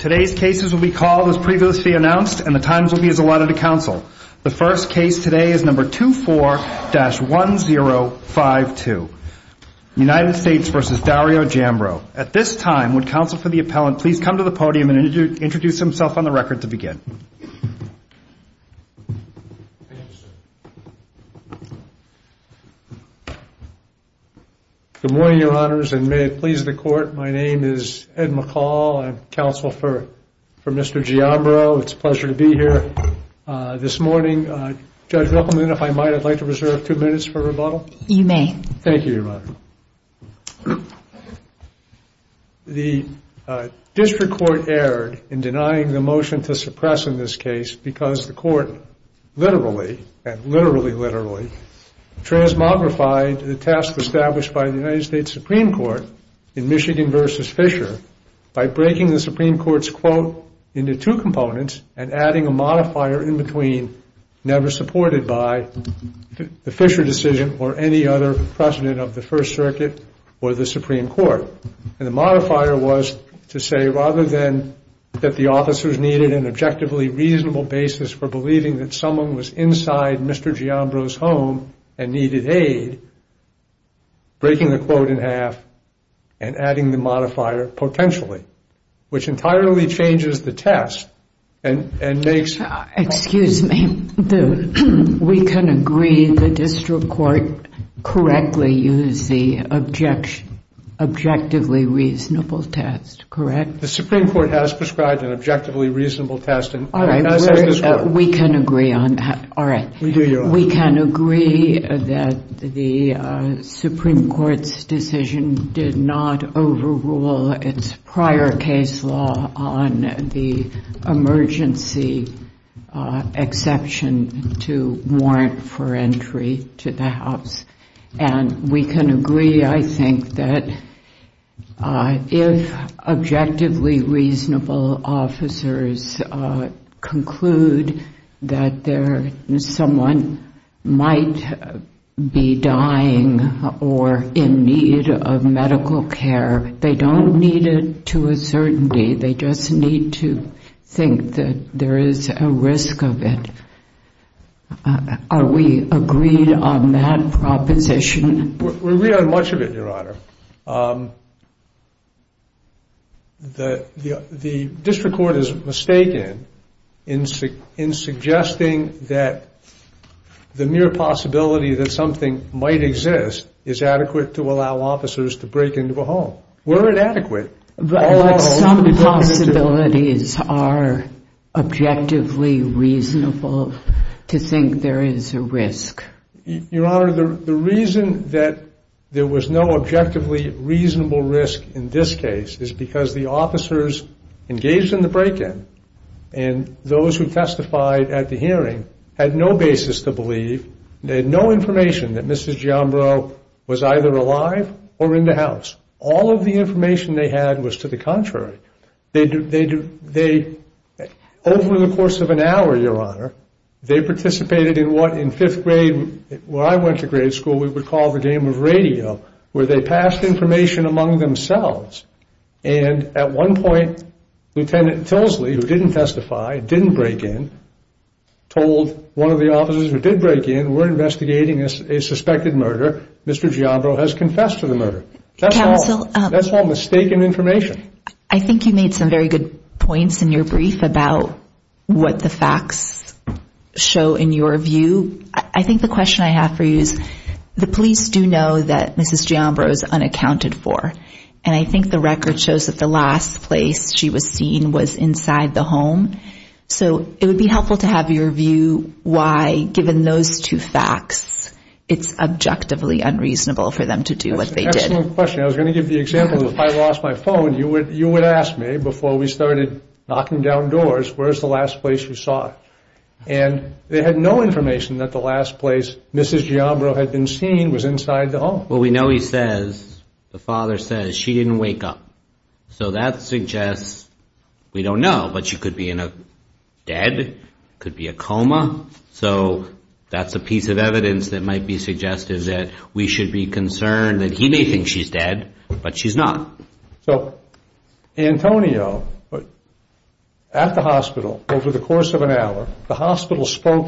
Today's cases will be called as previously announced and the times will be as allotted to counsel. The first case today is number 24-1052. United States v. Dario Giambro. At this time, would counsel for the appellant please come to the podium and introduce himself on the record to begin. Good morning, your honors, and may it please the court. My name is Ed McCall. I'm counsel for Mr. Giambro. It's a pleasure to be here this morning. Judge Ruppelman, if I might, I'd like to reserve two minutes for rebuttal. You may. Thank you, your honor. The district court erred in denying the motion to suppress in this case because the court literally, and literally, literally, transmogrified the task established by the United States Supreme Court in Michigan v. Fisher by breaking the Supreme Court's quote into two components and adding a modifier in between, never supported by the Fisher decision or any other precedent of the First Circuit or the Supreme Court. And the modifier was to say rather than that the officers needed an objectively reasonable basis for believing that someone was inside Mr. Giambro's home and needed aid, breaking the quote in half and adding the modifier potentially, which entirely changes the test and makes... Excuse me, we can agree the district court correctly used the objectively reasonable test, correct? The Supreme Court has prescribed an objectively reasonable test and... We can agree on that. All right. We do, your honor. We can agree that the Supreme Court's decision did not overrule its prior case law on the emergency exception to warrant for entry to the house. And we can agree, I think, that if objectively reasonable officers conclude that someone might be dying or in need of medical care, they don't need it to a certainty. They just need to think that there is a risk of it. Are we agreed on that proposition? We agree on much of it, your honor. The district court is mistaken in suggesting that the mere possibility that something might exist is adequate to allow officers to break into a home. Were it adequate... But some possibilities are objectively reasonable to think there is a risk. Your honor, the reason that there was no objectively reasonable risk in this case is because the officers engaged in the break-in and those who testified at the hearing had no basis to believe, they had no information that Mrs. Giambro was either alive or in the house. All of the information they had was to the contrary. Over the course of an hour, your honor, they participated in what in fifth grade, where I went to grade school, we would call the game of radio, where they passed information among themselves. And at one point, Lt. Tilsley, who didn't testify, didn't break in, told one of the officers who did break in, we're investigating a suspected murder, Mr. Giambro has confessed to the murder. That's all mistaken information. I think you made some very good points in your brief about what the facts show in your view. I think the question I have for you is, the police do know that Mrs. Giambro is unaccounted for. And I think the record shows that the last place she was seen was inside the home. So it would be helpful to have your view why, given those two facts, it's objectively unreasonable for them to do what they did. That's an excellent question. I was going to give the example, if I lost my phone, you would ask me, before we started knocking down doors, where's the last place you saw her? And they had no information that the last place Mrs. Giambro had been seen was inside the home. Well, we know he says, the father says, she didn't wake up. So that suggests, we don't know, but she could be in a dead, could be a coma. So that's a piece of evidence that might be suggestive that we should be concerned that he may think she's dead, but she's not. So Antonio, at the hospital, over the course of an hour, the hospital spoke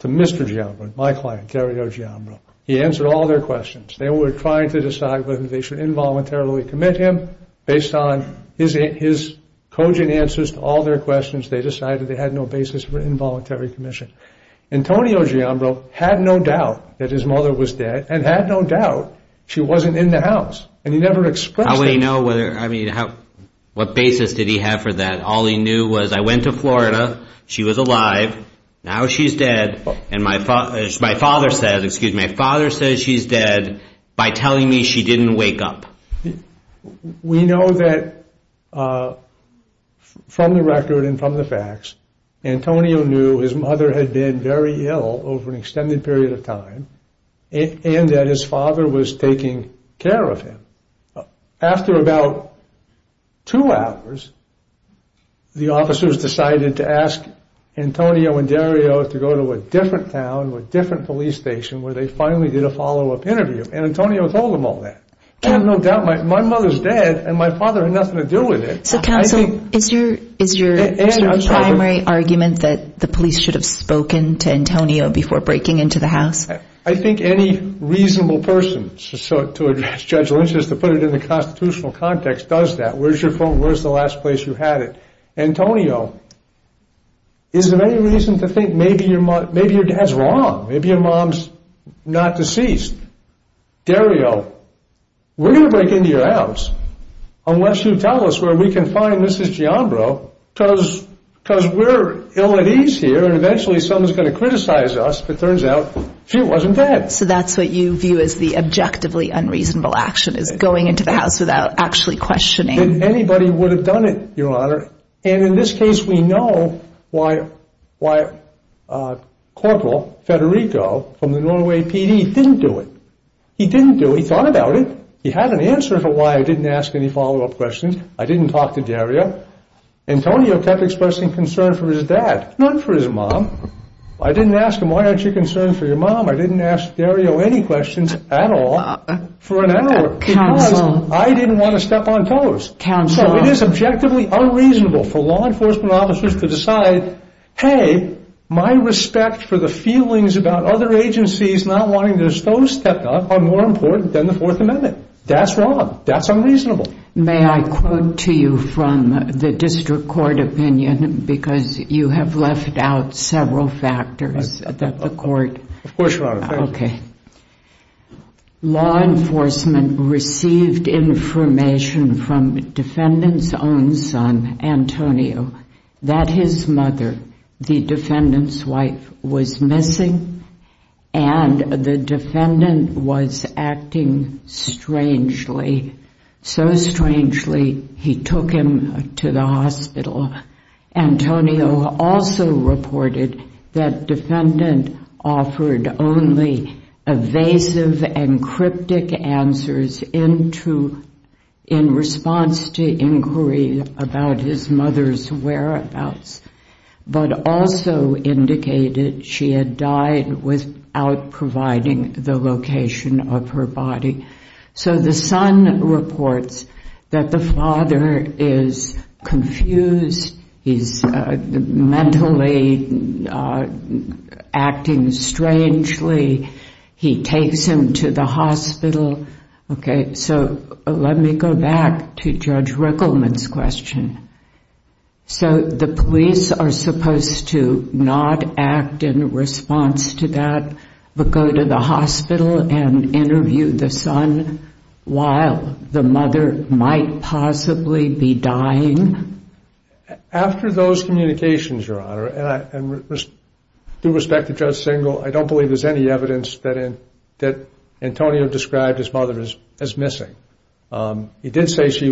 to Mr. Giambro, my client, Terry O. Giambro. He answered all their questions. They were trying to decide whether they should involuntarily commit him. Based on his cogent answers to all their questions, they decided they had no basis for involuntary commission. Antonio Giambro had no doubt that his mother was dead and had no doubt she wasn't in the house. And he never expressed that. How would he know whether, I mean, what basis did he have for that? All he knew was, I went to Florida. She was alive. Now she's dead. And my father, my father said, excuse me, my father says she's dead by telling me she didn't wake up. We know that from the record and from the facts, Antonio knew his mother had been very ill over an extended period of time and that his father was taking care of him. After about two hours, the officers decided to ask Antonio and Dario to go to a different town, a different police station, where they finally did a follow up interview. And Antonio told them all that. I have no doubt my mother's dead and my father had nothing to do with it. So counsel, is your primary argument that the police should have spoken to Antonio before breaking into the house? I think any reasonable person, so to address Judge Lynch's, to put it in the constitutional context, does that. Where's your phone? Where's the last place you had it? Antonio, is there any reason to think maybe your mom, maybe your dad's wrong? Maybe your mom's not deceased. Dario, we're going to break into your house unless you tell us where we can find Mrs. Giambro because we're ill at ease here and eventually someone's going to criticize us. But it turns out she wasn't dead. So that's what you view as the objectively unreasonable action is going into the house without actually questioning. Anybody would have done it, Your Honor. And in this case, we know why Corporal Federico from the Norway PD didn't do it. He didn't do it. He thought about it. He had an answer for why I didn't ask any follow up questions. I didn't talk to Dario. Antonio kept expressing concern for his dad, not for his mom. I didn't ask him, why aren't you concerned for your mom? I didn't ask Dario any questions at all for an hour because I didn't want to step on toes. So it is objectively unreasonable for law enforcement officers to decide, hey, my respect for the feelings about other agencies not wanting to dispose stepped up are more important than the Fourth Amendment. That's wrong. That's unreasonable. May I quote to you from the district court opinion? Because you have left out several factors at the court. Of course, Your Honor. Okay. Law enforcement received information from defendant's own son, Antonio, that his mother, the defendant's wife, was missing and the defendant was acting strangely, so strangely, he took him to the hospital. Antonio also reported that defendant offered only evasive and cryptic answers in response to inquiry about his mother's whereabouts, but also indicated she had died without providing the location of her body. So the son reports that the father is confused. He's mentally acting strangely. He takes him to the hospital. Okay, so let me go back to Judge Rickleman's question. So the police are supposed to not act in response to that, but go to the hospital and interview the son while the mother might possibly be dying? After those communications, Your Honor, and due respect to Judge Singal, I don't believe there's any evidence that Antonio described his mother as missing. He did say she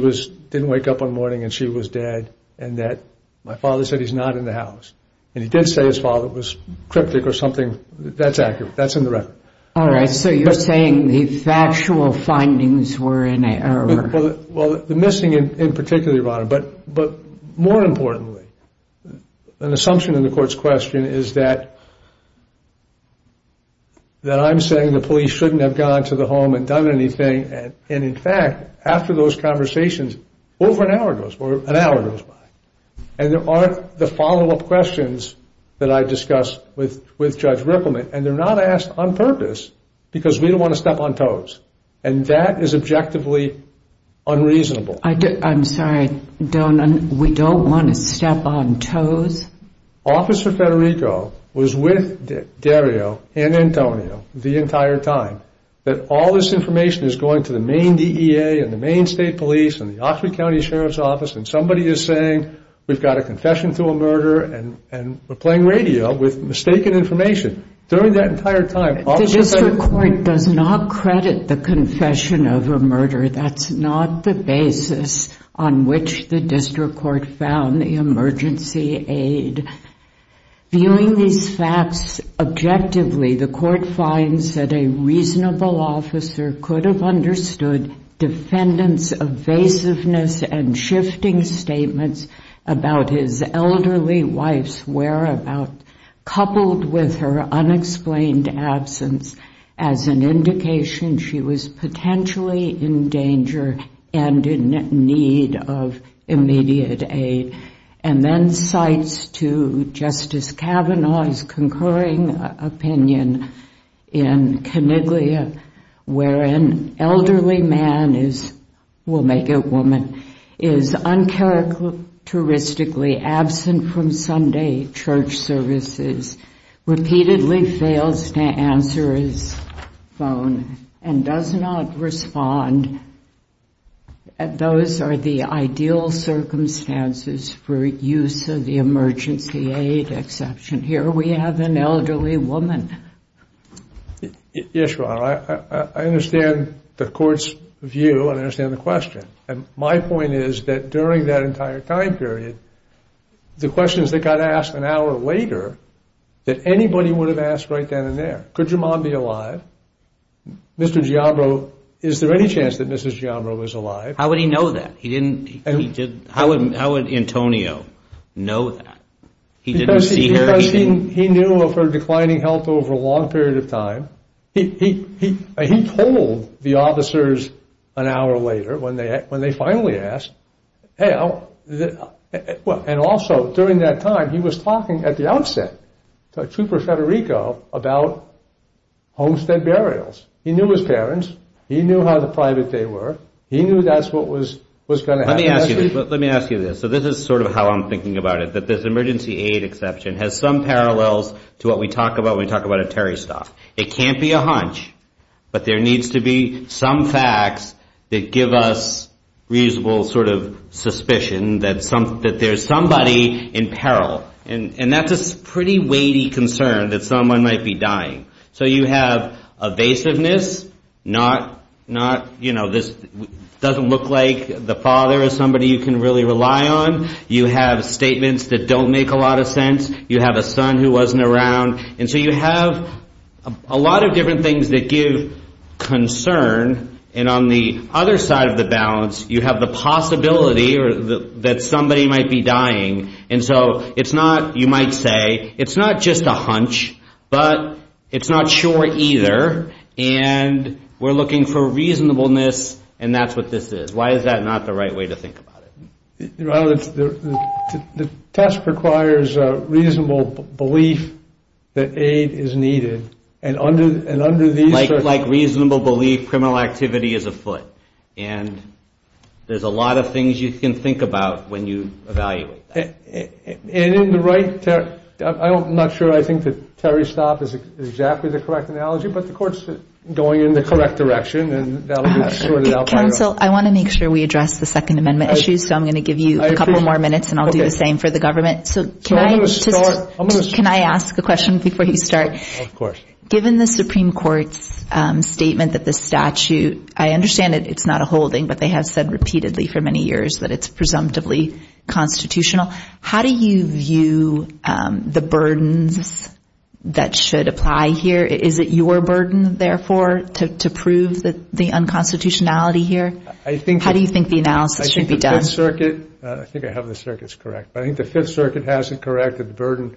didn't wake up one morning and she was dead, and that my father said he's not in the house. And he did say his father was cryptic or something. That's accurate. That's in the record. All right, so you're saying the factual findings were in error. Well, the missing in particular, Your Honor, but more importantly, an assumption in the court's question is that I'm saying the police shouldn't have gone to the home and done anything and in fact, after those conversations, over an hour goes by. And there are the follow-up questions that I discussed with Judge Rickleman, and they're not asked on purpose because we don't want to step on toes. And that is objectively unreasonable. I'm sorry, we don't want to step on toes? Officer Federico was with Dario and Antonio the entire time, that all this information is going to the Maine DEA and the Maine State Police and the Oxford County Sheriff's Office, and somebody is saying we've got a confession to a murder and we're playing radio with mistaken information. During that entire time, Officer Federico... The district court does not credit the confession of a murder. That's not the basis on which the district court found the emergency aid. Viewing these facts objectively, the court finds that a reasonable officer could have understood defendant's evasiveness and shifting statements about his elderly wife's whereabouts, coupled with her unexplained absence, as an indication she was potentially in danger and in need of immediate aid. And then cites to Justice Kavanaugh's concurring opinion in Coniglia, wherein elderly man is, we'll make it woman, is uncharacteristically absent from Sunday church services, repeatedly fails to answer his phone, and does not respond. Those are the ideal circumstances for use of the emergency aid exception. Here we have an elderly woman. Yes, Your Honor, I understand the court's view and I understand the question, and my point is that during that entire time period, the questions that got asked an hour later, that anybody would have asked right then and there, could your mom be alive, Mr. Giabro, is there any chance that Mrs. Giabro was alive? How would he know that? He didn't, he didn't, how would Antonio know that? He didn't see her eating? He knew of her declining health over a long period of time. He told the officers an hour later, when they finally asked, and also during that time, he was talking at the outset to Trooper Federico about homestead burials. He knew his parents, he knew how private they were, he knew that's what was going to happen. Let me ask you this, so this is sort of how I'm thinking about it, that this emergency aid exception has some parallels to what we talk about when we talk about a terrorist off. It can't be a hunch, but there needs to be some facts that give us reasonable sort of suspicion that there's somebody in peril, and that's a pretty weighty concern that someone might be dying. So you have evasiveness, not, you know, this doesn't look like the father is somebody you can really rely on. You have statements that don't make a lot of sense, you have a son who wasn't around, and so you have a lot of different things that give concern. And on the other side of the balance, you have the possibility that somebody might be dying. And so it's not, you might say, it's not just a hunch, but it's not sure either, and we're looking for reasonableness, and that's what this is. Why is that not the right way to think about it? Well, the test requires a reasonable belief that aid is needed, and under these circumstances... Like reasonable belief, criminal activity is afoot, and there's a lot of things you can think about when you evaluate that. And in the right, I'm not sure I think that Terry Stopp is exactly the correct analogy, but the court's going in the correct direction, and that'll be sorted out by... Counsel, I want to make sure we address the Second Amendment issues, so I'm going to give you a couple more minutes, and I'll do the same for the government. So can I ask a question before you start? Of course. Given the Supreme Court's statement that the statute, I understand it's not a holding, but they have said repeatedly for many years that it's presumptively constitutional. How do you view the burdens that should apply here? Is it your burden, therefore, to prove the unconstitutionality here? How do you think the analysis should be done? I think I have the circuits correct, but I think the Fifth Circuit has it correct that the burden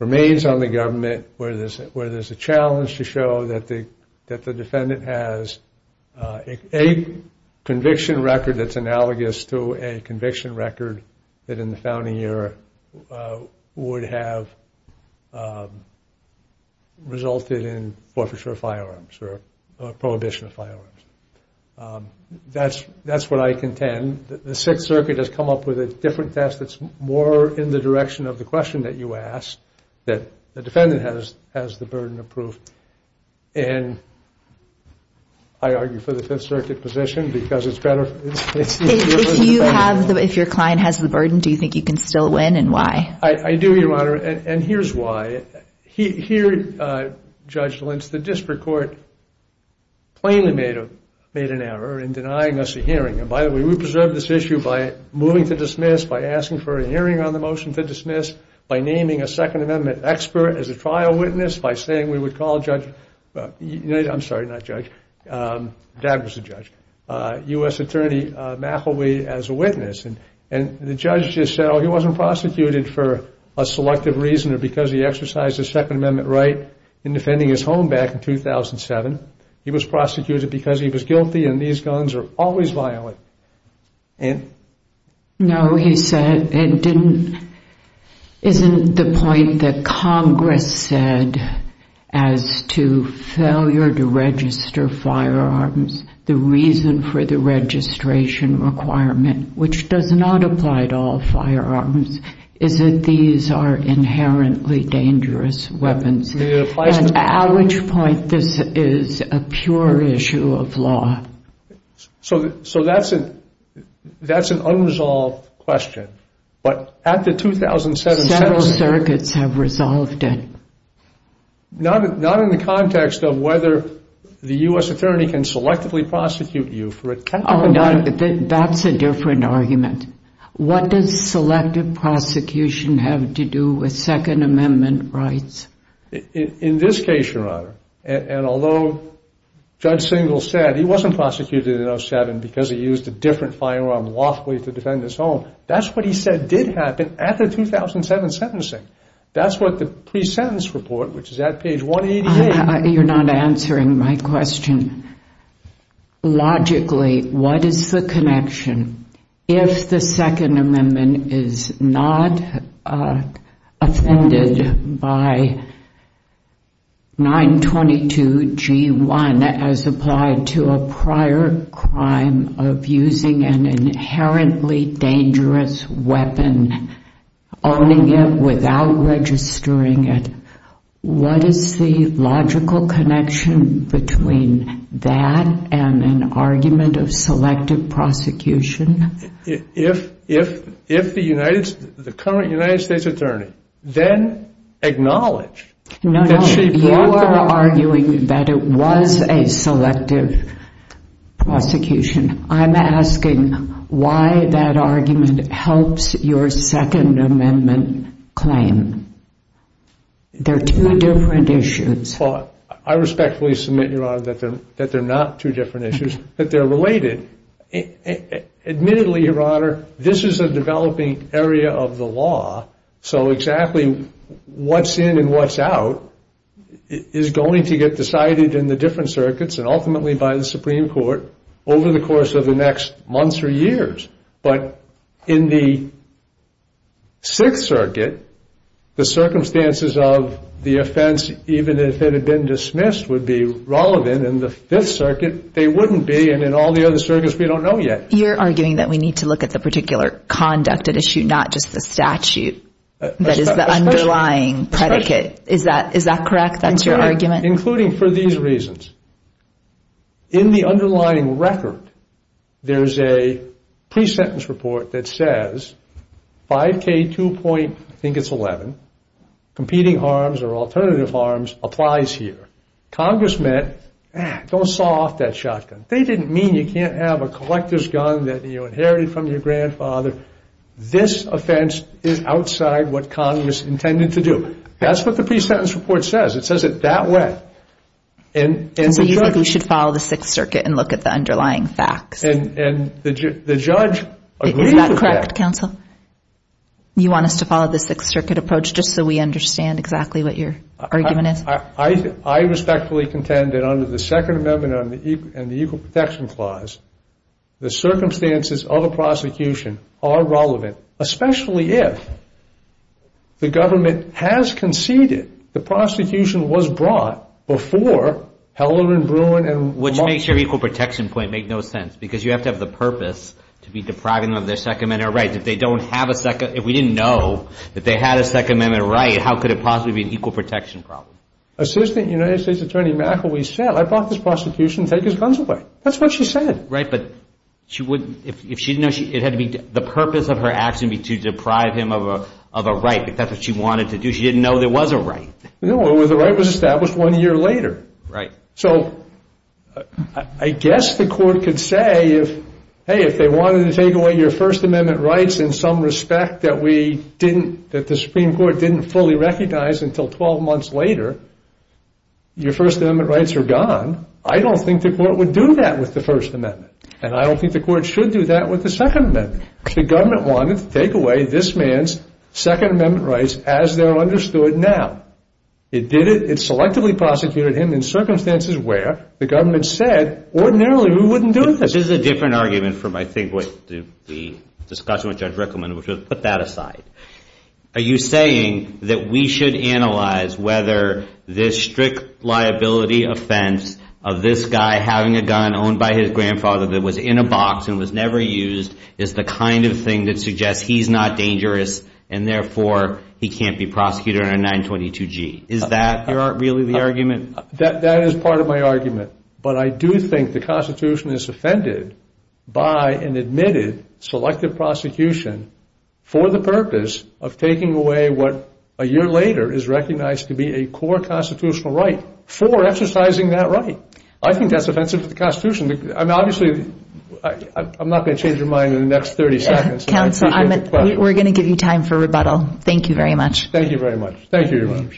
remains on the government where there's a challenge to show that the defendant has a conviction record that's analogous to a conviction record that in the founding era would have resulted in forfeiture of firearms or prohibition of firearms. That's what I contend. The Sixth Circuit has come up with a different test that's more in the direction of the question that you asked, that the defendant has the burden of proof. And I argue for the Fifth Circuit position because it's better... If your client has the burden, do you think you can still win, and why? I do, Your Honor, and here's why. Here, Judge Lynch, the district court plainly made an error in denying us a hearing. And by the way, we preserved this issue by moving to dismiss, by asking for a hearing on the motion to dismiss, by naming a Second Amendment expert as a trial witness, by saying we would call Judge... I'm sorry, not Judge. Dad was a judge. U.S. Attorney McElwee as a witness. And the judge just said, oh, he wasn't prosecuted for a selective reason or because he exercised a Second Amendment right in defending his home back in 2007. He was prosecuted because he was guilty, and these guns are always violent. Ann? No, he said it didn't... Isn't the point that Congress said as to failure to register firearms, the reason for the registration requirement, which does not apply to all firearms, is that these are inherently dangerous weapons? At which point this is a pure issue of law? So that's an unresolved question. But at the 2007... Several circuits have resolved it. Not in the context of whether the U.S. Attorney can selectively prosecute you for a technical... That's a different argument. What does selective prosecution have to do with Second Amendment rights? In this case, Your Honor, and although Judge Singel said he wasn't prosecuted in 2007 because he used a different firearm lawfully to defend his home, that's what he said did happen at the 2007 sentencing. That's what the pre-sentence report, which is at page 188... You're not answering my question. Logically, what is the connection? If the Second Amendment is not offended by 922G1 as applied to a prior crime of using an inherently dangerous weapon, owning it without registering it, what is the logical connection between that and an argument of selective prosecution? If the current United States Attorney then acknowledged... No, no. You are arguing that it was a selective prosecution. I'm asking why that argument helps your Second Amendment claim. They're two different issues. I respectfully submit, Your Honor, that they're not two different issues, that they're related. Admittedly, Your Honor, this is a developing area of the law, so exactly what's in and what's out is going to get decided in the different circuits and ultimately by the Supreme Court over the course of the next months or years. But in the Sixth Circuit, the circumstances of the offense, even if it had been dismissed, would be relevant. In the Fifth Circuit, they wouldn't be. And in all the other circuits, we don't know yet. You're arguing that we need to look at the particular conduct at issue, not just the statute that is the underlying predicate. Is that correct? That's your argument? Including for these reasons. In the underlying record, there's a pre-sentence report that says 5K2.11, competing harms or alternative harms applies here. Congress meant, don't saw off that shotgun. They didn't mean you can't have a collector's gun that you inherited from your grandfather. This offense is outside what Congress intended to do. That's what the pre-sentence report says. It says it that way. So you think we should follow the Sixth Circuit and look at the underlying facts? And the judge agrees with that. Is that correct, counsel? You want us to follow the Sixth Circuit approach just so we understand exactly what your argument is? I respectfully contend that under the Second Amendment and the Equal Protection Clause, the circumstances of a prosecution are relevant, especially if the government has conceded the prosecution was brought before Heller and Bruin. Which makes your Equal Protection point make no sense, because you have to have the purpose to be depriving them of their Second Amendment rights. If we didn't know that they had a Second Amendment right, how could it possibly be an Equal Protection problem? Assistant United States Attorney McElwee said, I brought this prosecution, take his guns away. That's what she said. Right, but if she didn't know, the purpose of her action would be to deprive him of a right, but that's what she wanted to do. She didn't know there was a right. No, the right was established one year later. Right. So I guess the court could say, hey, if they wanted to take away your First Amendment rights in some respect that we didn't, that the Supreme Court didn't fully recognize until 12 months later, your First Amendment rights are gone. I don't think the court would do that with the First Amendment, and I don't think the court should do that with the Second Amendment. The government wanted to take away this man's Second Amendment rights as they're understood now. It did it. It selectively prosecuted him in circumstances where the government said ordinarily we wouldn't do it. This is a different argument from I think what the discussion with Judge Rickleman, which was put that aside. Are you saying that we should analyze whether this strict liability offense of this guy having a gun owned by his grandfather that was in a box and was never used is the kind of thing that suggests he's not dangerous and therefore he can't be prosecuted under 922G? Is that really the argument? That is part of my argument, but I do think the Constitution is offended by an admitted selective prosecution for the purpose of taking away what a year later is recognized to be a core constitutional right for exercising that right. I think that's offensive to the Constitution. Obviously, I'm not going to change your mind in the next 30 seconds. Counsel, we're going to give you time for rebuttal. Thank you very much. Thank you very much. Thank you, Your Honor.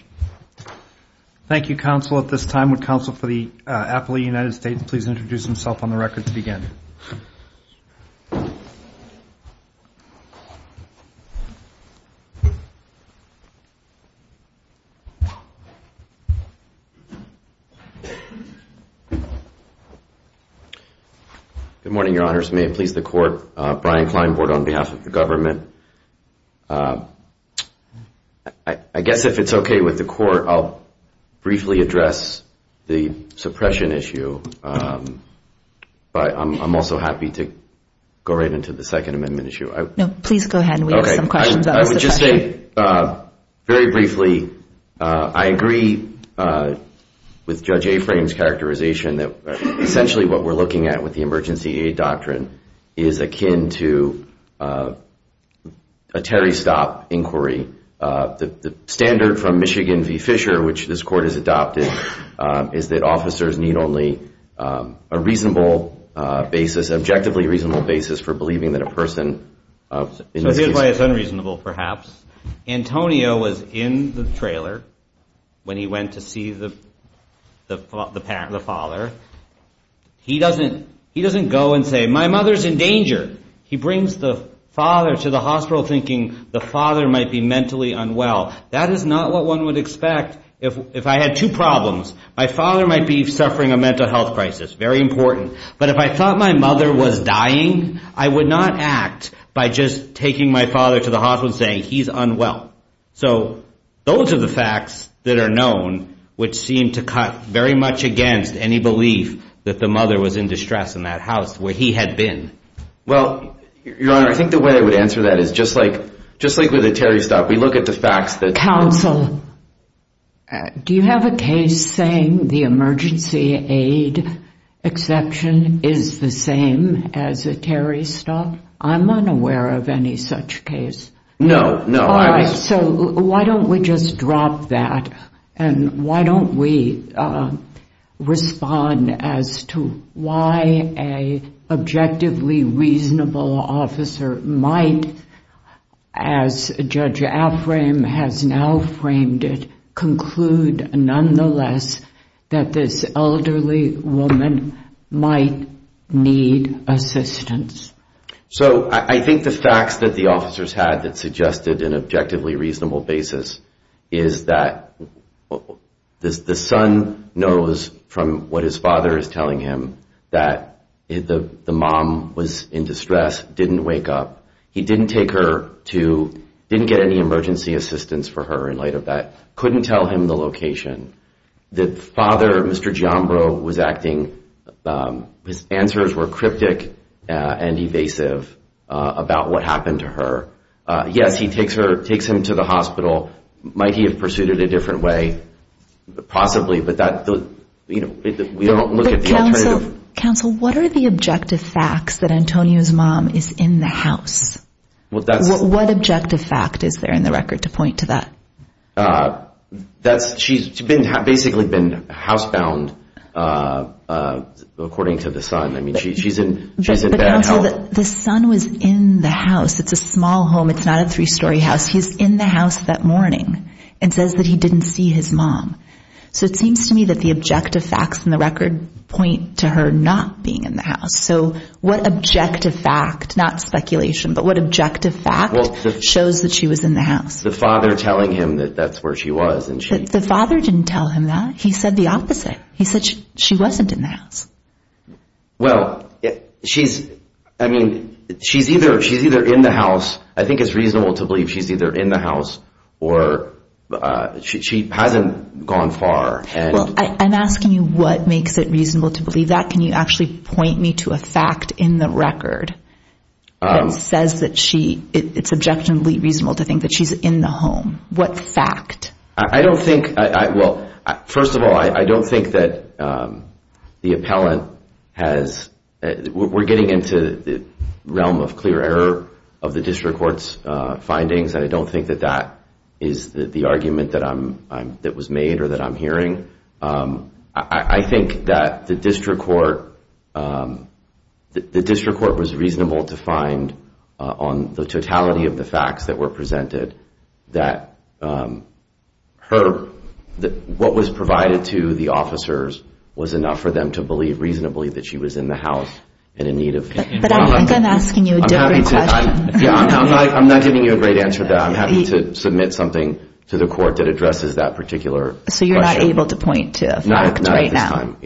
Thank you, counsel. At this time, would counsel for the appellate of the United States please introduce himself on the record to begin? Good morning, Your Honors. May it please the Court, Brian Kleinbord on behalf of the government. I guess if it's okay with the Court, I'll briefly address the suppression issue, but I'm also happy to go right into the Second Amendment issue. No, please go ahead. We have some questions about the suppression. Okay. I would just say very briefly I agree with Judge Aframe's characterization that essentially what we're looking at with the emergency aid doctrine is akin to a Terry Stopp inquiry. The standard from Michigan v. Fisher, which this Court has adopted, is that officers need only a reasonable basis, objectively reasonable basis for believing that a person in this case- So here's why it's unreasonable, perhaps. Antonio was in the trailer when he went to see the father. He doesn't go and say, my mother's in danger. He brings the father to the hospital thinking the father might be mentally unwell. That is not what one would expect. If I had two problems, my father might be suffering a mental health crisis, very important. But if I thought my mother was dying, I would not act by just taking my father to the hospital and saying he's unwell. So those are the facts that are known which seem to cut very much against any belief that the mother was in distress in that house where he had been. Well, Your Honor, I think the way I would answer that is just like with a Terry Stopp, we look at the facts that- Counsel, do you have a case saying the emergency aid exception is the same as a Terry Stopp? I'm unaware of any such case. No, no. So why don't we just drop that and why don't we respond as to why an objectively reasonable officer might, as Judge Affram has now framed it, conclude nonetheless that this elderly woman might need assistance? So I think the facts that the officers had that suggested an objectively reasonable basis is that the son knows from what his father is telling him that the mom was in distress, didn't wake up. He didn't take her to, didn't get any emergency assistance for her in light of that, couldn't tell him the location. The father, Mr. Giambro, was acting, his answers were cryptic and evasive about what happened to her. Yes, he takes her, takes him to the hospital. Might he have pursued it a different way? Possibly, but that, you know, we don't look at the alternative- Counsel, what are the objective facts that Antonio's mom is in the house? What objective fact is there in the record to point to that? She's basically been housebound according to the son. I mean, she's in bad health. The son was in the house. It's a small home. It's not a three-story house. He's in the house that morning and says that he didn't see his mom. So it seems to me that the objective facts in the record point to her not being in the house. So what objective fact, not speculation, but what objective fact shows that she was in the house? The father telling him that that's where she was. The father didn't tell him that. He said the opposite. He said she wasn't in the house. Well, she's, I mean, she's either in the house. I think it's reasonable to believe she's either in the house or she hasn't gone far. Well, I'm asking you what makes it reasonable to believe that. Can you actually point me to a fact in the record that says that she, it's objectively reasonable to think that she's in the home? What fact? I don't think, well, first of all, I don't think that the appellant has, we're getting into the realm of clear error of the district court's findings, and I don't think that that is the argument that was made or that I'm hearing. I think that the district court, the district court was reasonable to find on the totality of the facts that were presented that what was provided to the officers was enough for them to believe reasonably that she was in the house and in need of counseling. But I think I'm asking you a different question. Yeah, I'm not giving you a great answer to that. I'm having to submit something to the court that addresses that particular question. So you're not able to point to a fact right now? Not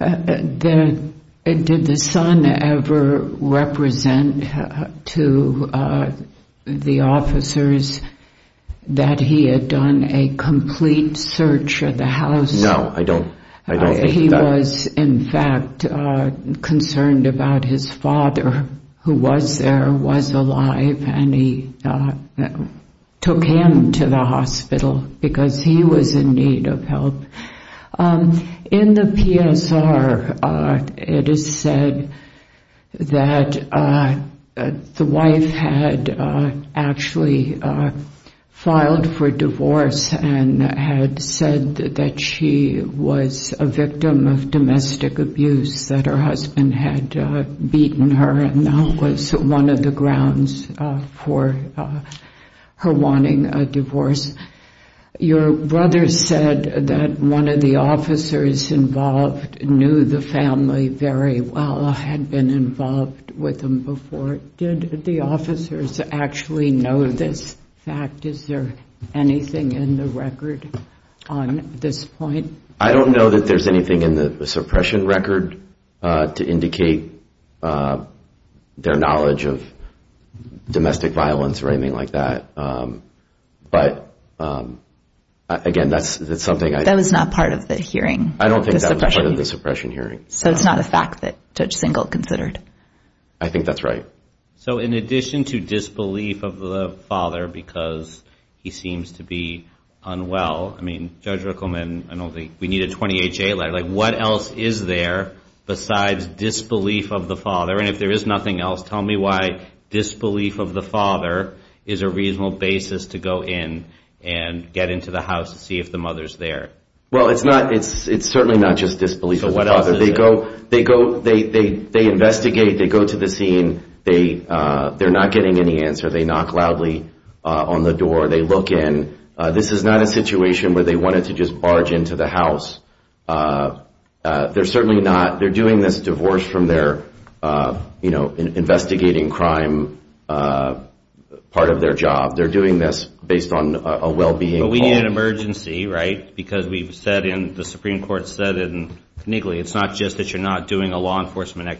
at this time, yeah. Did the son ever represent to the officers that he had done a complete search of the house? No, I don't think that. He was, in fact, concerned about his father, who was there, was alive, and he took him to the hospital because he was in need of help. In the PSR, it is said that the wife had actually filed for divorce and had said that she was a victim of domestic abuse, that her husband had beaten her, and that was one of the grounds for her wanting a divorce. Your brother said that one of the officers involved knew the family very well, had been involved with them before. Did the officers actually know this fact? Is there anything in the record on this point? I don't know that there's anything in the suppression record to indicate their knowledge of domestic violence or anything like that. But, again, that's something I don't know. That was not part of the hearing? I don't think that was part of the suppression hearing. So it's not a fact that Judge Singleton considered? I think that's right. So in addition to disbelief of the father because he seems to be unwell, I mean, Judge Rickleman, we need a 28-J letter. What else is there besides disbelief of the father? And if there is nothing else, tell me why disbelief of the father is a reasonable basis to go in and get into the house to see if the mother's there. Well, it's certainly not just disbelief of the father. So what else is there? They investigate. They go to the scene. They're not getting any answer. They knock loudly on the door. They look in. This is not a situation where they wanted to just barge into the house. They're certainly not. They're doing this divorce from their investigating crime part of their job. They're doing this based on a well-being call. But we need an emergency, right? Because we've said in, the Supreme Court said in Knigley, it's not just that you're not doing a law enforcement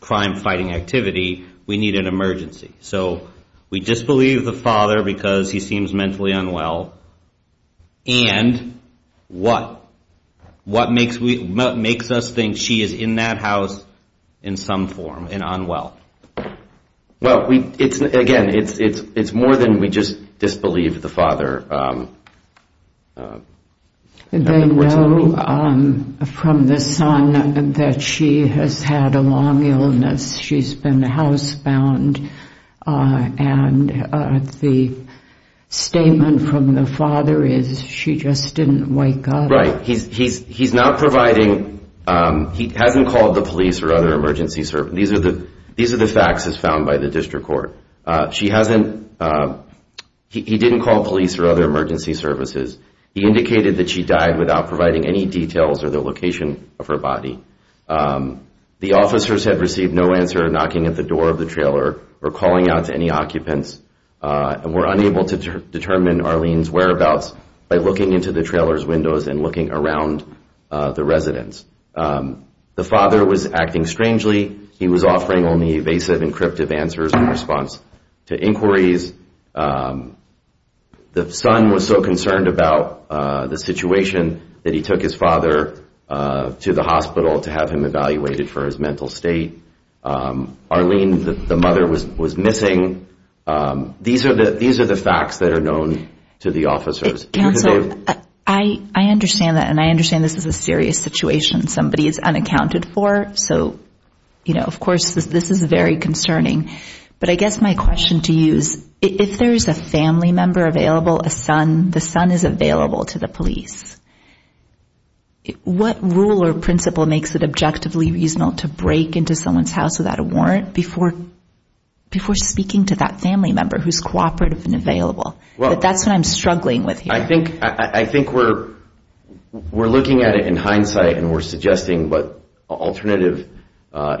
crime-fighting activity. We need an emergency. So we disbelieve the father because he seems mentally unwell. And what? What makes us think she is in that house in some form and unwell? Well, again, it's more than we just disbelieve the father. They know from the son that she has had a long illness. She's been housebound. And the statement from the father is she just didn't wake up. Right. He's not providing, he hasn't called the police or other emergency services. These are the facts as found by the district court. She hasn't, he didn't call police or other emergency services. He indicated that she died without providing any details of the location of her body. The officers had received no answer knocking at the door of the trailer or calling out to any occupants and were unable to determine Arlene's whereabouts by looking into the trailer's windows and looking around the residence. The father was acting strangely. He was offering only evasive and cryptic answers in response to inquiries. The son was so concerned about the situation that he took his father to the hospital to have him evaluated for his mental state. Arlene, the mother, was missing. These are the facts that are known to the officers. Counsel, I understand that, and I understand this is a serious situation. Somebody is unaccounted for. So, you know, of course, this is very concerning. But I guess my question to you is if there is a family member available, a son, and the son is available to the police, what rule or principle makes it objectively reasonable to break into someone's house without a warrant before speaking to that family member who is cooperative and available? That's what I'm struggling with here. I think we're looking at it in hindsight and we're suggesting what alternative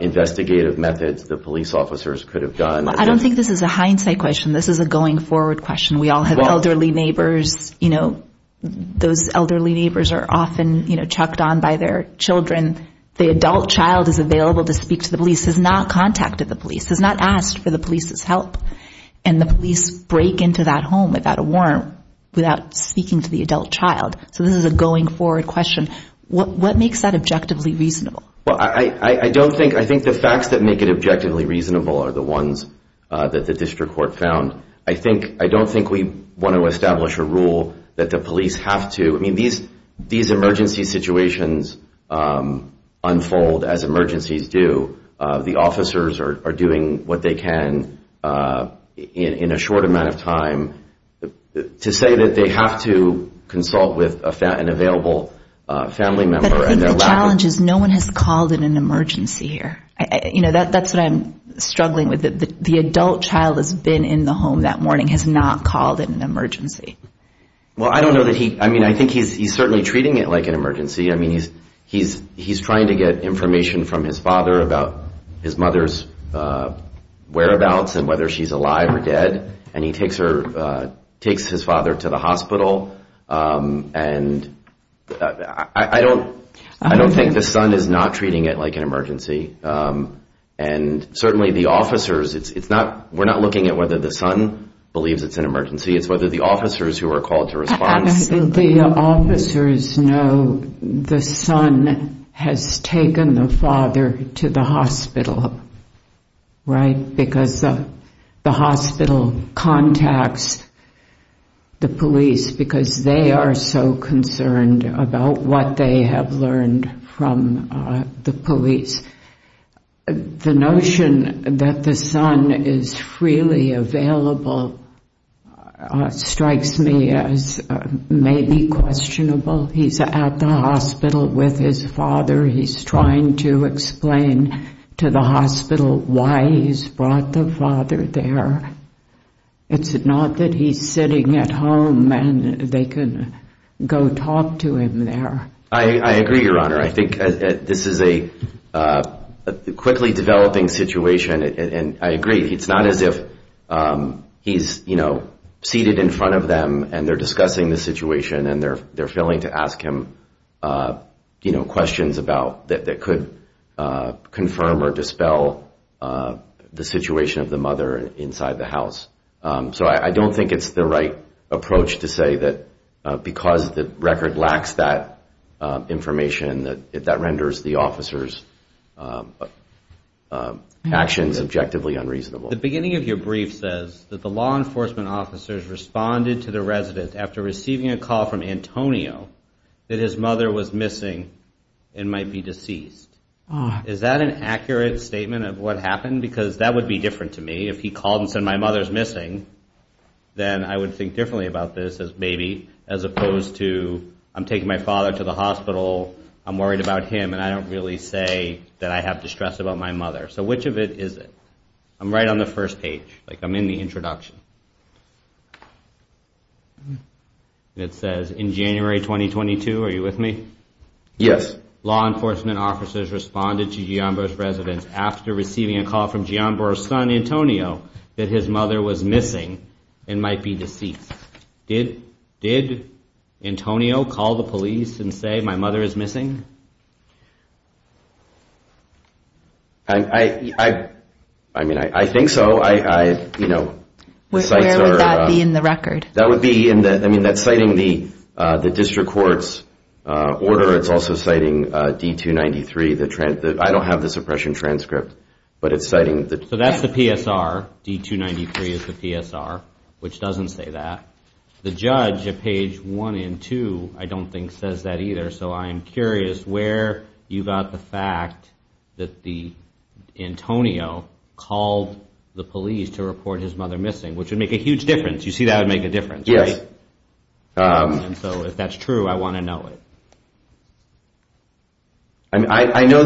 investigative methods the police officers could have done. I don't think this is a hindsight question. This is a going forward question. We all have elderly neighbors. Those elderly neighbors are often chucked on by their children. The adult child is available to speak to the police, has not contacted the police, has not asked for the police's help, and the police break into that home without a warrant, without speaking to the adult child. So this is a going forward question. What makes that objectively reasonable? I think the facts that make it objectively reasonable are the ones that the district court found. I don't think we want to establish a rule that the police have to. These emergency situations unfold as emergencies do. The officers are doing what they can in a short amount of time to say that they have to consult with an available family member. But I think the challenge is no one has called in an emergency here. That's what I'm struggling with. The adult child that's been in the home that morning has not called in an emergency. I think he's certainly treating it like an emergency. He's trying to get information from his father about his mother's whereabouts and whether she's alive or dead, and he takes his father to the hospital. I don't think the son is not treating it like an emergency. And certainly the officers, we're not looking at whether the son believes it's an emergency, it's whether the officers who are called to respond. The officers know the son has taken the father to the hospital, right, because the hospital contacts the police because they are so concerned about what they have learned from the police. The notion that the son is freely available strikes me as maybe questionable. He's at the hospital with his father. He's trying to explain to the hospital why he's brought the father there. It's not that he's sitting at home and they can go talk to him there. I agree, Your Honor. I think this is a quickly developing situation, and I agree. It's not as if he's seated in front of them and they're discussing the situation and they're failing to ask him questions that could confirm or dispel the situation of the mother inside the house. So I don't think it's the right approach to say that because the record lacks that information, that renders the officers' actions objectively unreasonable. The beginning of your brief says that the law enforcement officers responded to the resident after receiving a call from Antonio that his mother was missing and might be deceased. Is that an accurate statement of what happened? Because that would be different to me. If he called and said my mother's missing, then I would think differently about this as maybe, as opposed to I'm taking my father to the hospital, I'm worried about him, and I don't really say that I have distress about my mother. So which of it is it? I'm right on the first page. I'm in the introduction. It says, in January 2022, are you with me? Yes. The beginning of your brief says that the law enforcement officers responded to Gianboro's resident after receiving a call from Gianboro's son, Antonio, that his mother was missing and might be deceased. Did Antonio call the police and say my mother is missing? I mean, I think so. Where would that be in the record? I mean, that's citing the district court's order. It's also citing D-293. I don't have the suppression transcript, but it's citing the- So that's the PSR. D-293 is the PSR, which doesn't say that. The judge at page 1 and 2 I don't think says that either, so I'm curious where you got the fact that Antonio called the police to report his mother missing, which would make a huge difference. You see that would make a difference, right? And so if that's true, I want to know it. I know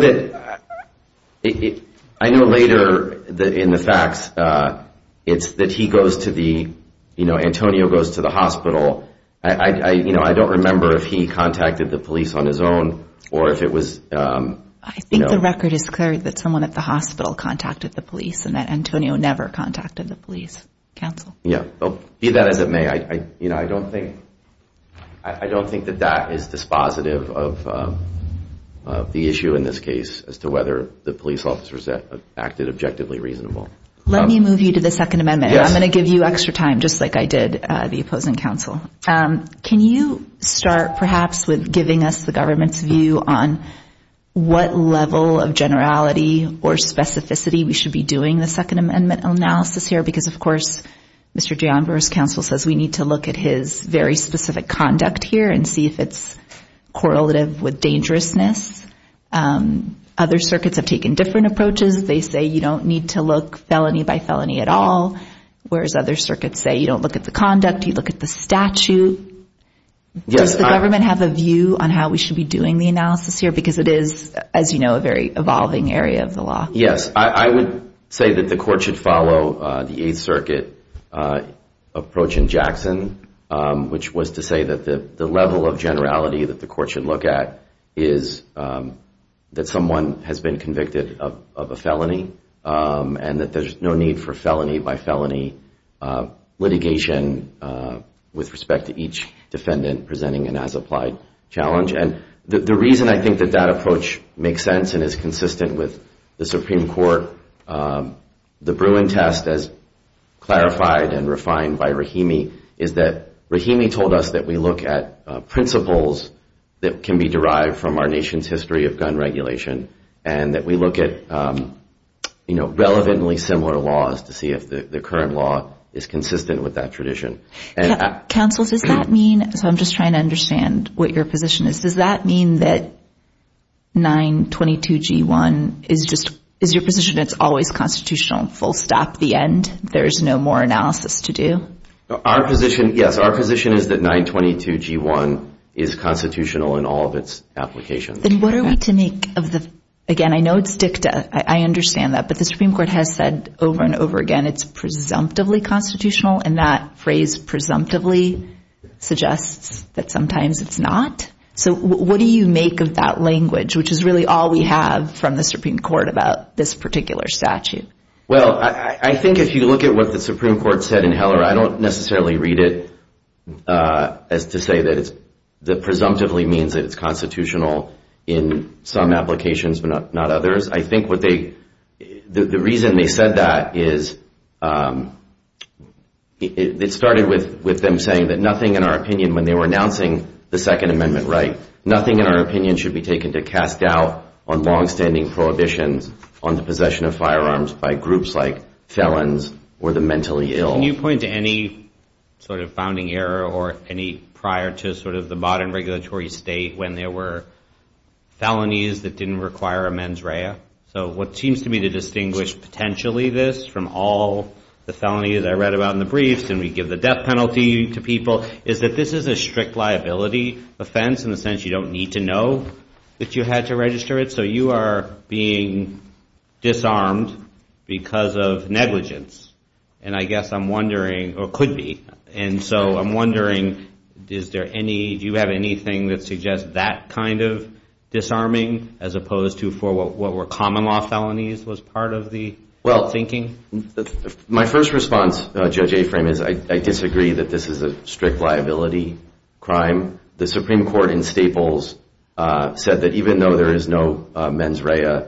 later in the facts it's that he goes to the-Antonio goes to the hospital. I don't remember if he contacted the police on his own or if it was- I think the record is clear that someone at the hospital contacted the police and that Antonio never contacted the police counsel. Yeah, be that as it may, I don't think that that is dispositive of the issue in this case as to whether the police officers acted objectively reasonable. Let me move you to the Second Amendment. I'm going to give you extra time just like I did the opposing counsel. Can you start perhaps with giving us the government's view on what level of generality or specificity we should be doing the Second Amendment analysis here? Because, of course, Mr. DeAndra's counsel says we need to look at his very specific conduct here and see if it's correlative with dangerousness. Other circuits have taken different approaches. They say you don't need to look felony by felony at all, whereas other circuits say you don't look at the conduct, you look at the statute. Does the government have a view on how we should be doing the analysis here? Because it is, as you know, a very evolving area of the law. Yes, I would say that the court should follow the Eighth Circuit approach in Jackson, which was to say that the level of generality that the court should look at is that someone has been convicted of a felony and that there's no need for felony by felony litigation with respect to each defendant presenting an as-applied challenge. And the reason I think that that approach makes sense and is consistent with the Supreme Court, the Bruin test as clarified and refined by Rahimi, is that Rahimi told us that we look at principles that can be derived from our nation's history of gun regulation and that we look at, you know, relevantly similar laws to see if the current law is consistent with that tradition. Counsel, does that mean, so I'm just trying to understand what your position is, does that mean that 922G1 is just, is your position it's always constitutional, full stop, the end, there's no more analysis to do? Our position, yes, our position is that 922G1 is constitutional in all of its applications. Then what are we to make of the, again, I know it's dicta, I understand that, but the Supreme Court has said over and over again it's presumptively constitutional and that phrase presumptively suggests that sometimes it's not. So what do you make of that language, which is really all we have from the Supreme Court about this particular statute? Well, I think if you look at what the Supreme Court said in Heller, I don't necessarily read it as to say that it presumptively means that it's constitutional in some applications but not others. I think what they, the reason they said that is it started with them saying that nothing in our opinion when they were announcing the Second Amendment right, nothing in our opinion should be taken to cast doubt on longstanding prohibitions on the possession of firearms by groups like felons or the mentally ill. Can you point to any sort of founding era or any prior to sort of the modern regulatory state when there were felonies that didn't require a mens rea? So what seems to me to distinguish potentially this from all the felonies I read about in the briefs and we give the death penalty to people is that this is a strict liability offense in the sense you don't need to know that you had to register it. So you are being disarmed because of negligence, and I guess I'm wondering, or could be, and so I'm wondering, do you have anything that suggests that kind of disarming as opposed to for what were common law felonies was part of the thinking? My first response, Judge Aframe, is I disagree that this is a strict liability crime. The Supreme Court in Staples said that even though there is no mens rea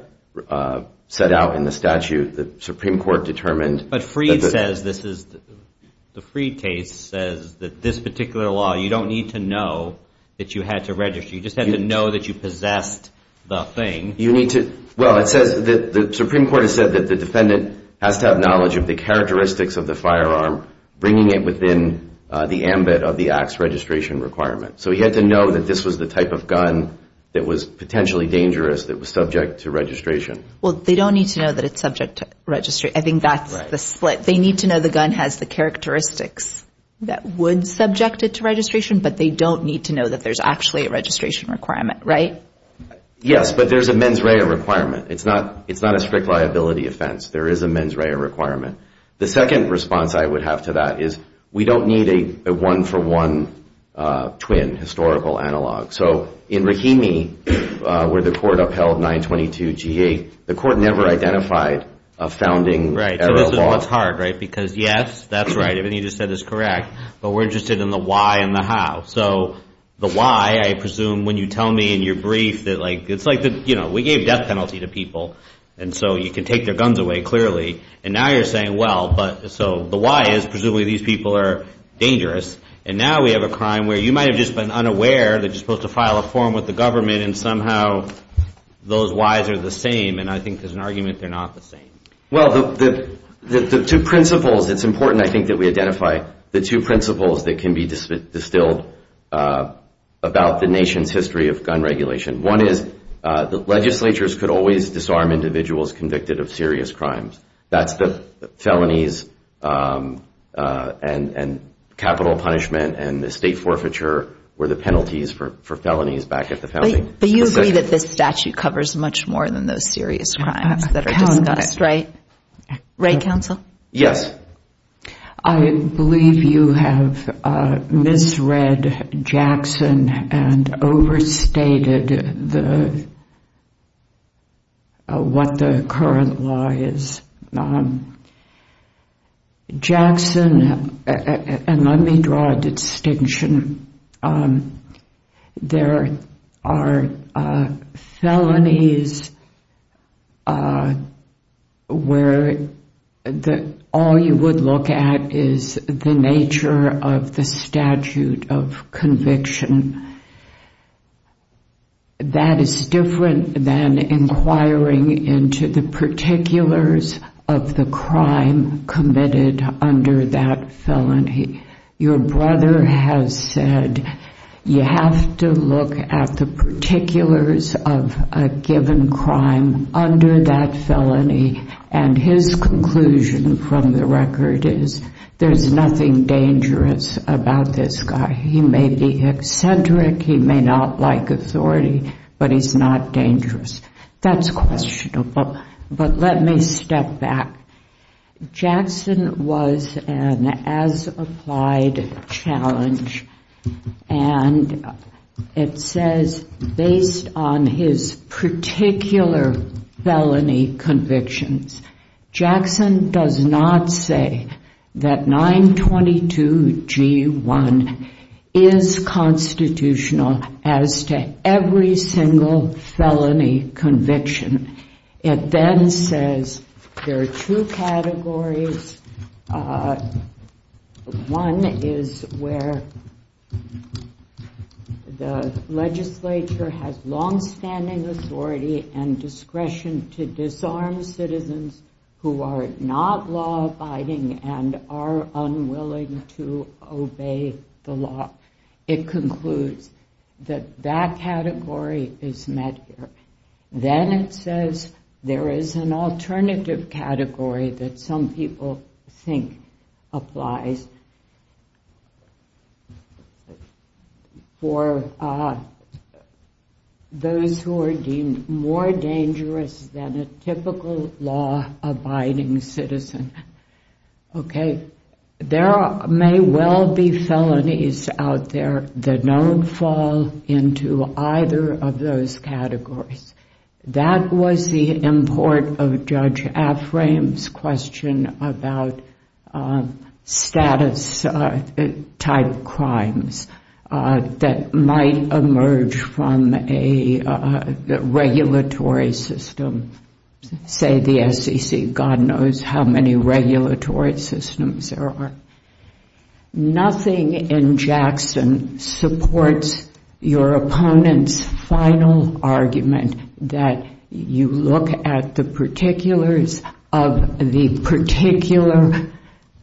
set out in the statute, the Supreme Court determined that the... But Freed says this is, the Freed case says that this particular law, you don't need to know that you had to register. You just had to know that you possessed the thing. You need to, well, it says, the Supreme Court has said that the defendant has to have knowledge of the characteristics of the firearm, bringing it within the ambit of the act's registration requirement. So he had to know that this was the type of gun that was potentially dangerous, that was subject to registration. Well, they don't need to know that it's subject to registration. I think that's the split. They need to know the gun has the characteristics that would subject it to registration, but they don't need to know that there's actually a registration requirement, right? Yes, but there's a mens rea requirement. It's not a strict liability offense. There is a mens rea requirement. The second response I would have to that is we don't need a one-for-one twin historical analog. So in Rahimi, where the court upheld 922G8, the court never identified a founding error of law. Right. So this is what's hard, right? Because, yes, that's right. Everything you just said is correct, but we're interested in the why and the how. So the why, I presume, when you tell me in your brief that, like, it's like, you know, we gave death penalty to people, and so you can take their guns away, clearly, and now you're saying, well, but so the why is presumably these people are dangerous, and now we have a crime where you might have just been unaware that you're supposed to file a form with the government and somehow those whys are the same, and I think there's an argument they're not the same. Well, the two principles, it's important, I think, that we identify the two principles that can be distilled about the nation's history of gun regulation. One is that legislatures could always disarm individuals convicted of serious crimes. That's the felonies and capital punishment and estate forfeiture were the penalties for felonies back at the founding. But you agree that this statute covers much more than those serious crimes that are discussed, right? Right, counsel? Yes. I believe you have misread Jackson and overstated what the current law is. Jackson, and let me draw a distinction, there are felonies where all you would look at is the nature of the statute of conviction. That is different than inquiring into the particulars of the crime committed under that felony. Your brother has said you have to look at the particulars of a given crime under that felony and his conclusion from the record is there's nothing dangerous about this guy. He may be eccentric, he may not like authority, but he's not dangerous. That's questionable, but let me step back. Jackson was an as-applied challenge and it says based on his particular felony convictions, Jackson does not say that 922G1 is constitutional as to every single felony conviction. It then says there are two categories. One is where the legislature has long-standing authority and discretion to disarm citizens who are not law-abiding and are unwilling to obey the law. It concludes that that category is met here. Then it says there is an alternative category that some people think applies for those who are deemed more dangerous than a typical law-abiding citizen. There may well be felonies out there that don't fall into either of those categories. That was the import of Judge Aframe's question about status-type crimes that might emerge from a regulatory system. Say the SEC, God knows how many regulatory systems there are. Nothing in Jackson supports your opponent's final argument that you look at the particulars of the particular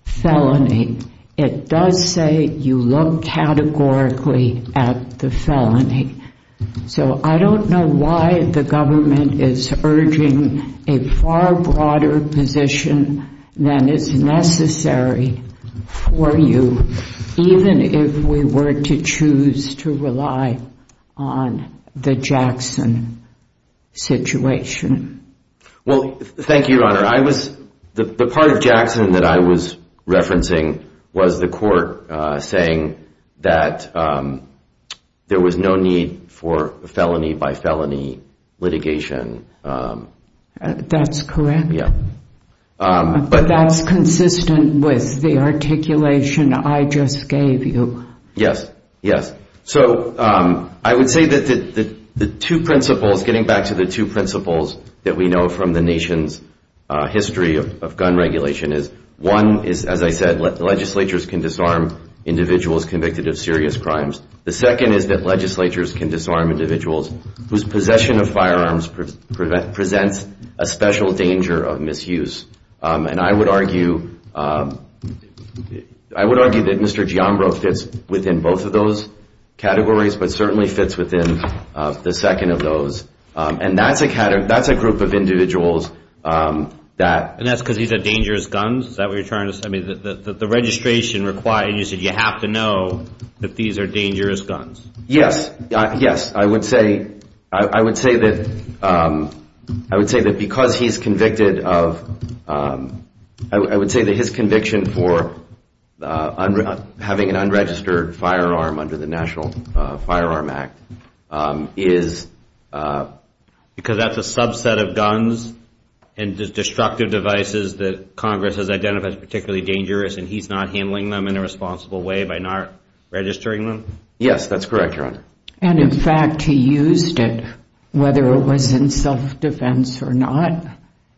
felony. It does say you look categorically at the felony. I don't know why the government is urging a far broader position than is necessary for you, even if we were to choose to rely on the Jackson situation. Thank you, Your Honor. The part of Jackson that I was referencing was the court saying that there was no need for felony-by-felony litigation. That's correct. That's consistent with the articulation I just gave you. Yes, yes. I would say that the two principles, getting back to the two principles that we know from the nation's history of gun regulation, is one is, as I said, that legislatures can disarm individuals convicted of serious crimes. The second is that legislatures can disarm individuals whose possession of firearms presents a special danger of misuse. And I would argue that Mr. Giambro fits within both of those categories, but certainly fits within the second of those. And that's a group of individuals that... And that's because these are dangerous guns? Is that what you're trying to say? I mean, the registration requires that you have to know that these are dangerous guns. Yes, yes. I would say that because he's convicted of... I would say that his conviction for having an unregistered firearm under the National Firearm Act is because that's a subset of guns and destructive devices that Congress has identified as particularly dangerous and he's not handling them in a responsible way by not registering them? Yes, that's correct, Your Honor. And in fact, he used it, whether it was in self-defense or not.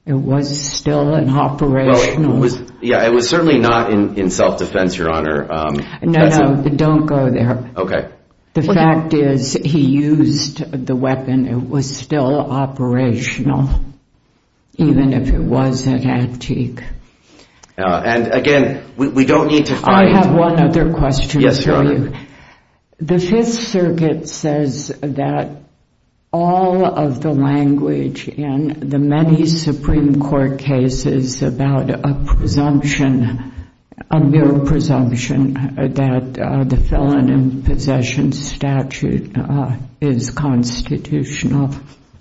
It was still an operational... Yeah, it was certainly not in self-defense, Your Honor. No, no, don't go there. The fact is he used the weapon. It was still operational, even if it was an antique. And again, we don't need to fight... I have one other question for you. The Fifth Circuit says that all of the language in the many Supreme Court cases about a presumption, a mere presumption, that the felon in possession statute is constitutional.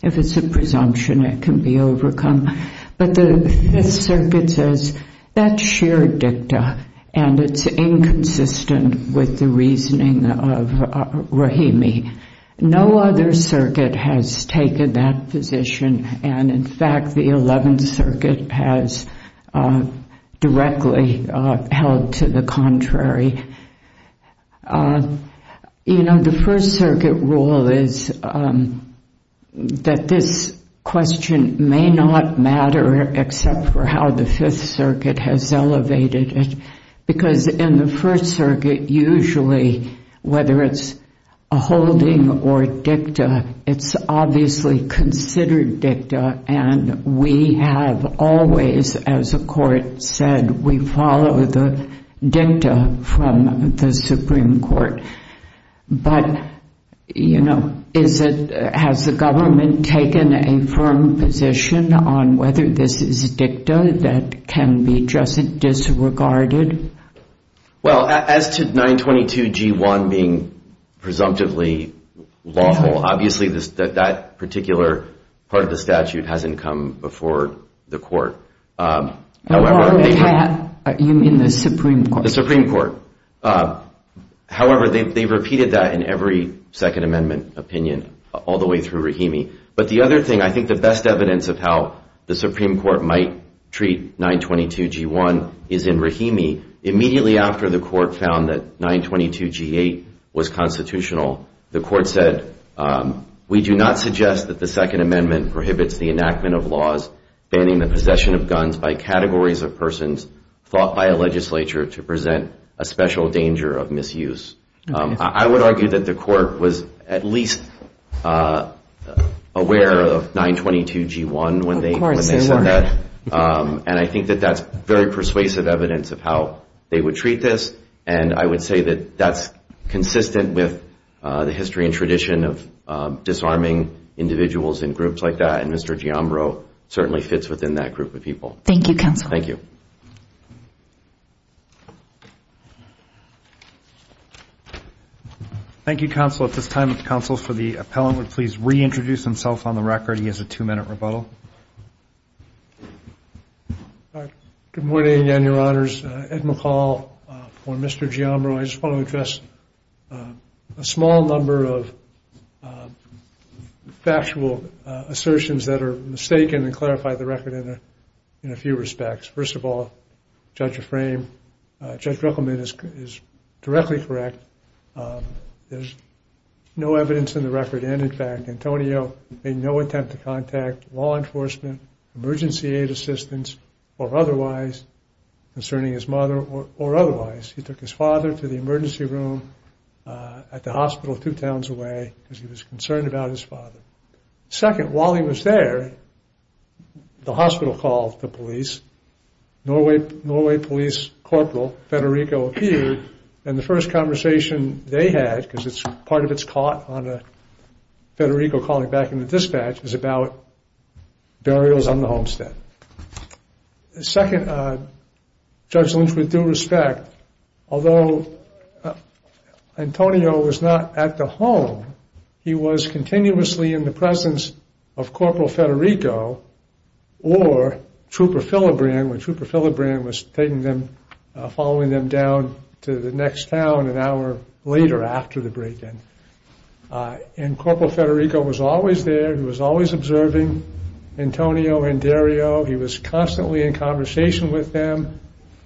If it's a presumption, it can be overcome. But the Fifth Circuit says that's sheer dicta and it's inconsistent with the reasoning of Rahimi. No other circuit has taken that position and in fact, the Eleventh Circuit has directly held to the contrary. You know, the First Circuit rule is that this question may not matter except for how the Fifth Circuit has elevated it. Because in the First Circuit, usually, whether it's a holding or dicta, it's obviously considered dicta and we have always, as the Court said, we follow the dicta from the Supreme Court. But, you know, has the government taken a firm position on whether this is dicta that can be just disregarded? Well, as to 922G1 being presumptively lawful, obviously that particular part of the statute hasn't come before the Court. You mean the Supreme Court? The Supreme Court. However, they've repeated that in every Second Amendment opinion all the way through Rahimi. But the other thing, I think the best evidence of how the Supreme Court might treat 922G1 is in Rahimi. Immediately after the Court found that 922G8 was constitutional, the Court said, we do not suggest that the Second Amendment prohibits the enactment of laws banning the possession of guns by categories of persons thought by a legislature to present a special danger of misuse. I would argue that the Court was at least aware of 922G1 when they said that. And I think that that's very persuasive evidence of how they would treat this. And I would say that that's consistent with the history and tradition of disarming individuals in groups like that. And Mr. Giambro certainly fits within that group of people. Thank you, Counsel. At this time, the Counsel for the Appellant would please reintroduce himself on the record. He has a two minute rebuttal. Thank you, Mr. Giambro. I just want to address a small number of factual assertions that are mistaken and clarify the record in a few respects. First of all, Judge Ruckelman is directly correct. There's no evidence in the record, and in fact, Antonio made no attempt to contact law enforcement, emergency aid assistance, or otherwise concerning his mother or otherwise. He took his father to the emergency room at the hospital two towns away because he was concerned about his father. Second, while he was there, the hospital called the police. Norway police corporal Federico appeared, and the first conversation they had, because part of it's caught on a Federico calling back in the dispatch, is about burials on the homestead. Second, Judge Lynch, with due respect, although Antonio was not at the home, he was continuously in the presence of Corporal Federico or Trooper Philibran, when Trooper Philibran was following them down to the next town an hour later after the break-in. And Corporal Federico was always there. He was always observing Antonio and Dario. He was constantly in conversation with them.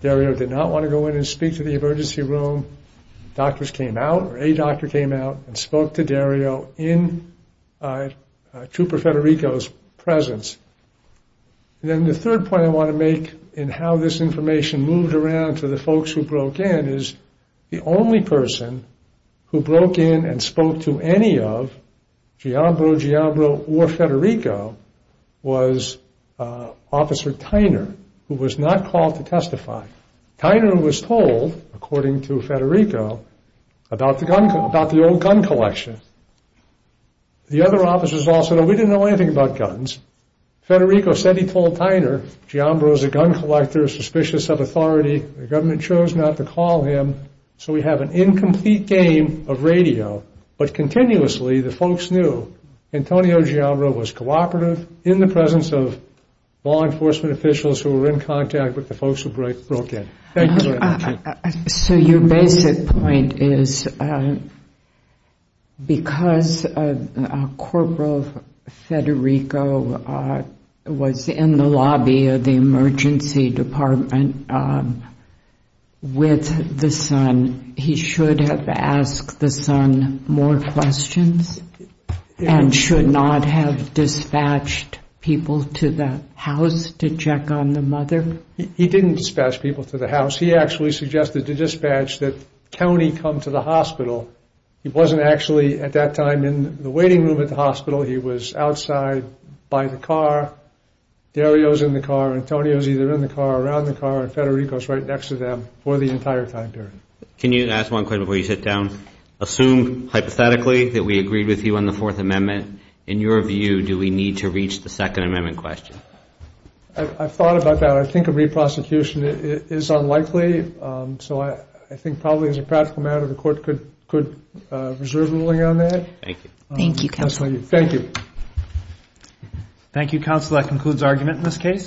Dario did not want to go in and speak to the emergency room. Doctors came out, or a doctor came out and spoke to Dario in Trooper Federico's presence. And then the third point I want to make in how this information moved around to the folks who broke in, is the only person who broke in and spoke to any of Giabro, Giabro, or Federico was Officer Tyner, who was not called to testify. Tyner was told, according to Federico, about the old gun collection. The other officers also said, we didn't know anything about guns. Federico said he told Tyner, Giabro is a gun collector, suspicious of authority, the government chose not to call him, so we have an incomplete game of radio, but continuously the folks knew Antonio Giabro was cooperative in the presence of law enforcement officials who were in contact with the folks who broke in. So your basic point is because Corporal Federico was in the lobby of the emergency department with the son, he should have asked the son more questions and should not have dispatched people to the house to check on the mother? He didn't dispatch people to the house. He actually suggested to dispatch that Tony come to the hospital. He wasn't actually at that time in the waiting room at the hospital. He was outside by the car. Dario's in the car, Antonio's either in the car or around the car, and Federico's right next to them for the entire time period. Can you ask one question before you sit down? Assume hypothetically that we agreed with you on the Fourth Amendment. In your view, do we need to reach the Second Amendment question? I've thought about that. I think a re-prosecution is unlikely, so I think probably as a practical matter the court could reserve a ruling on that. Thank you.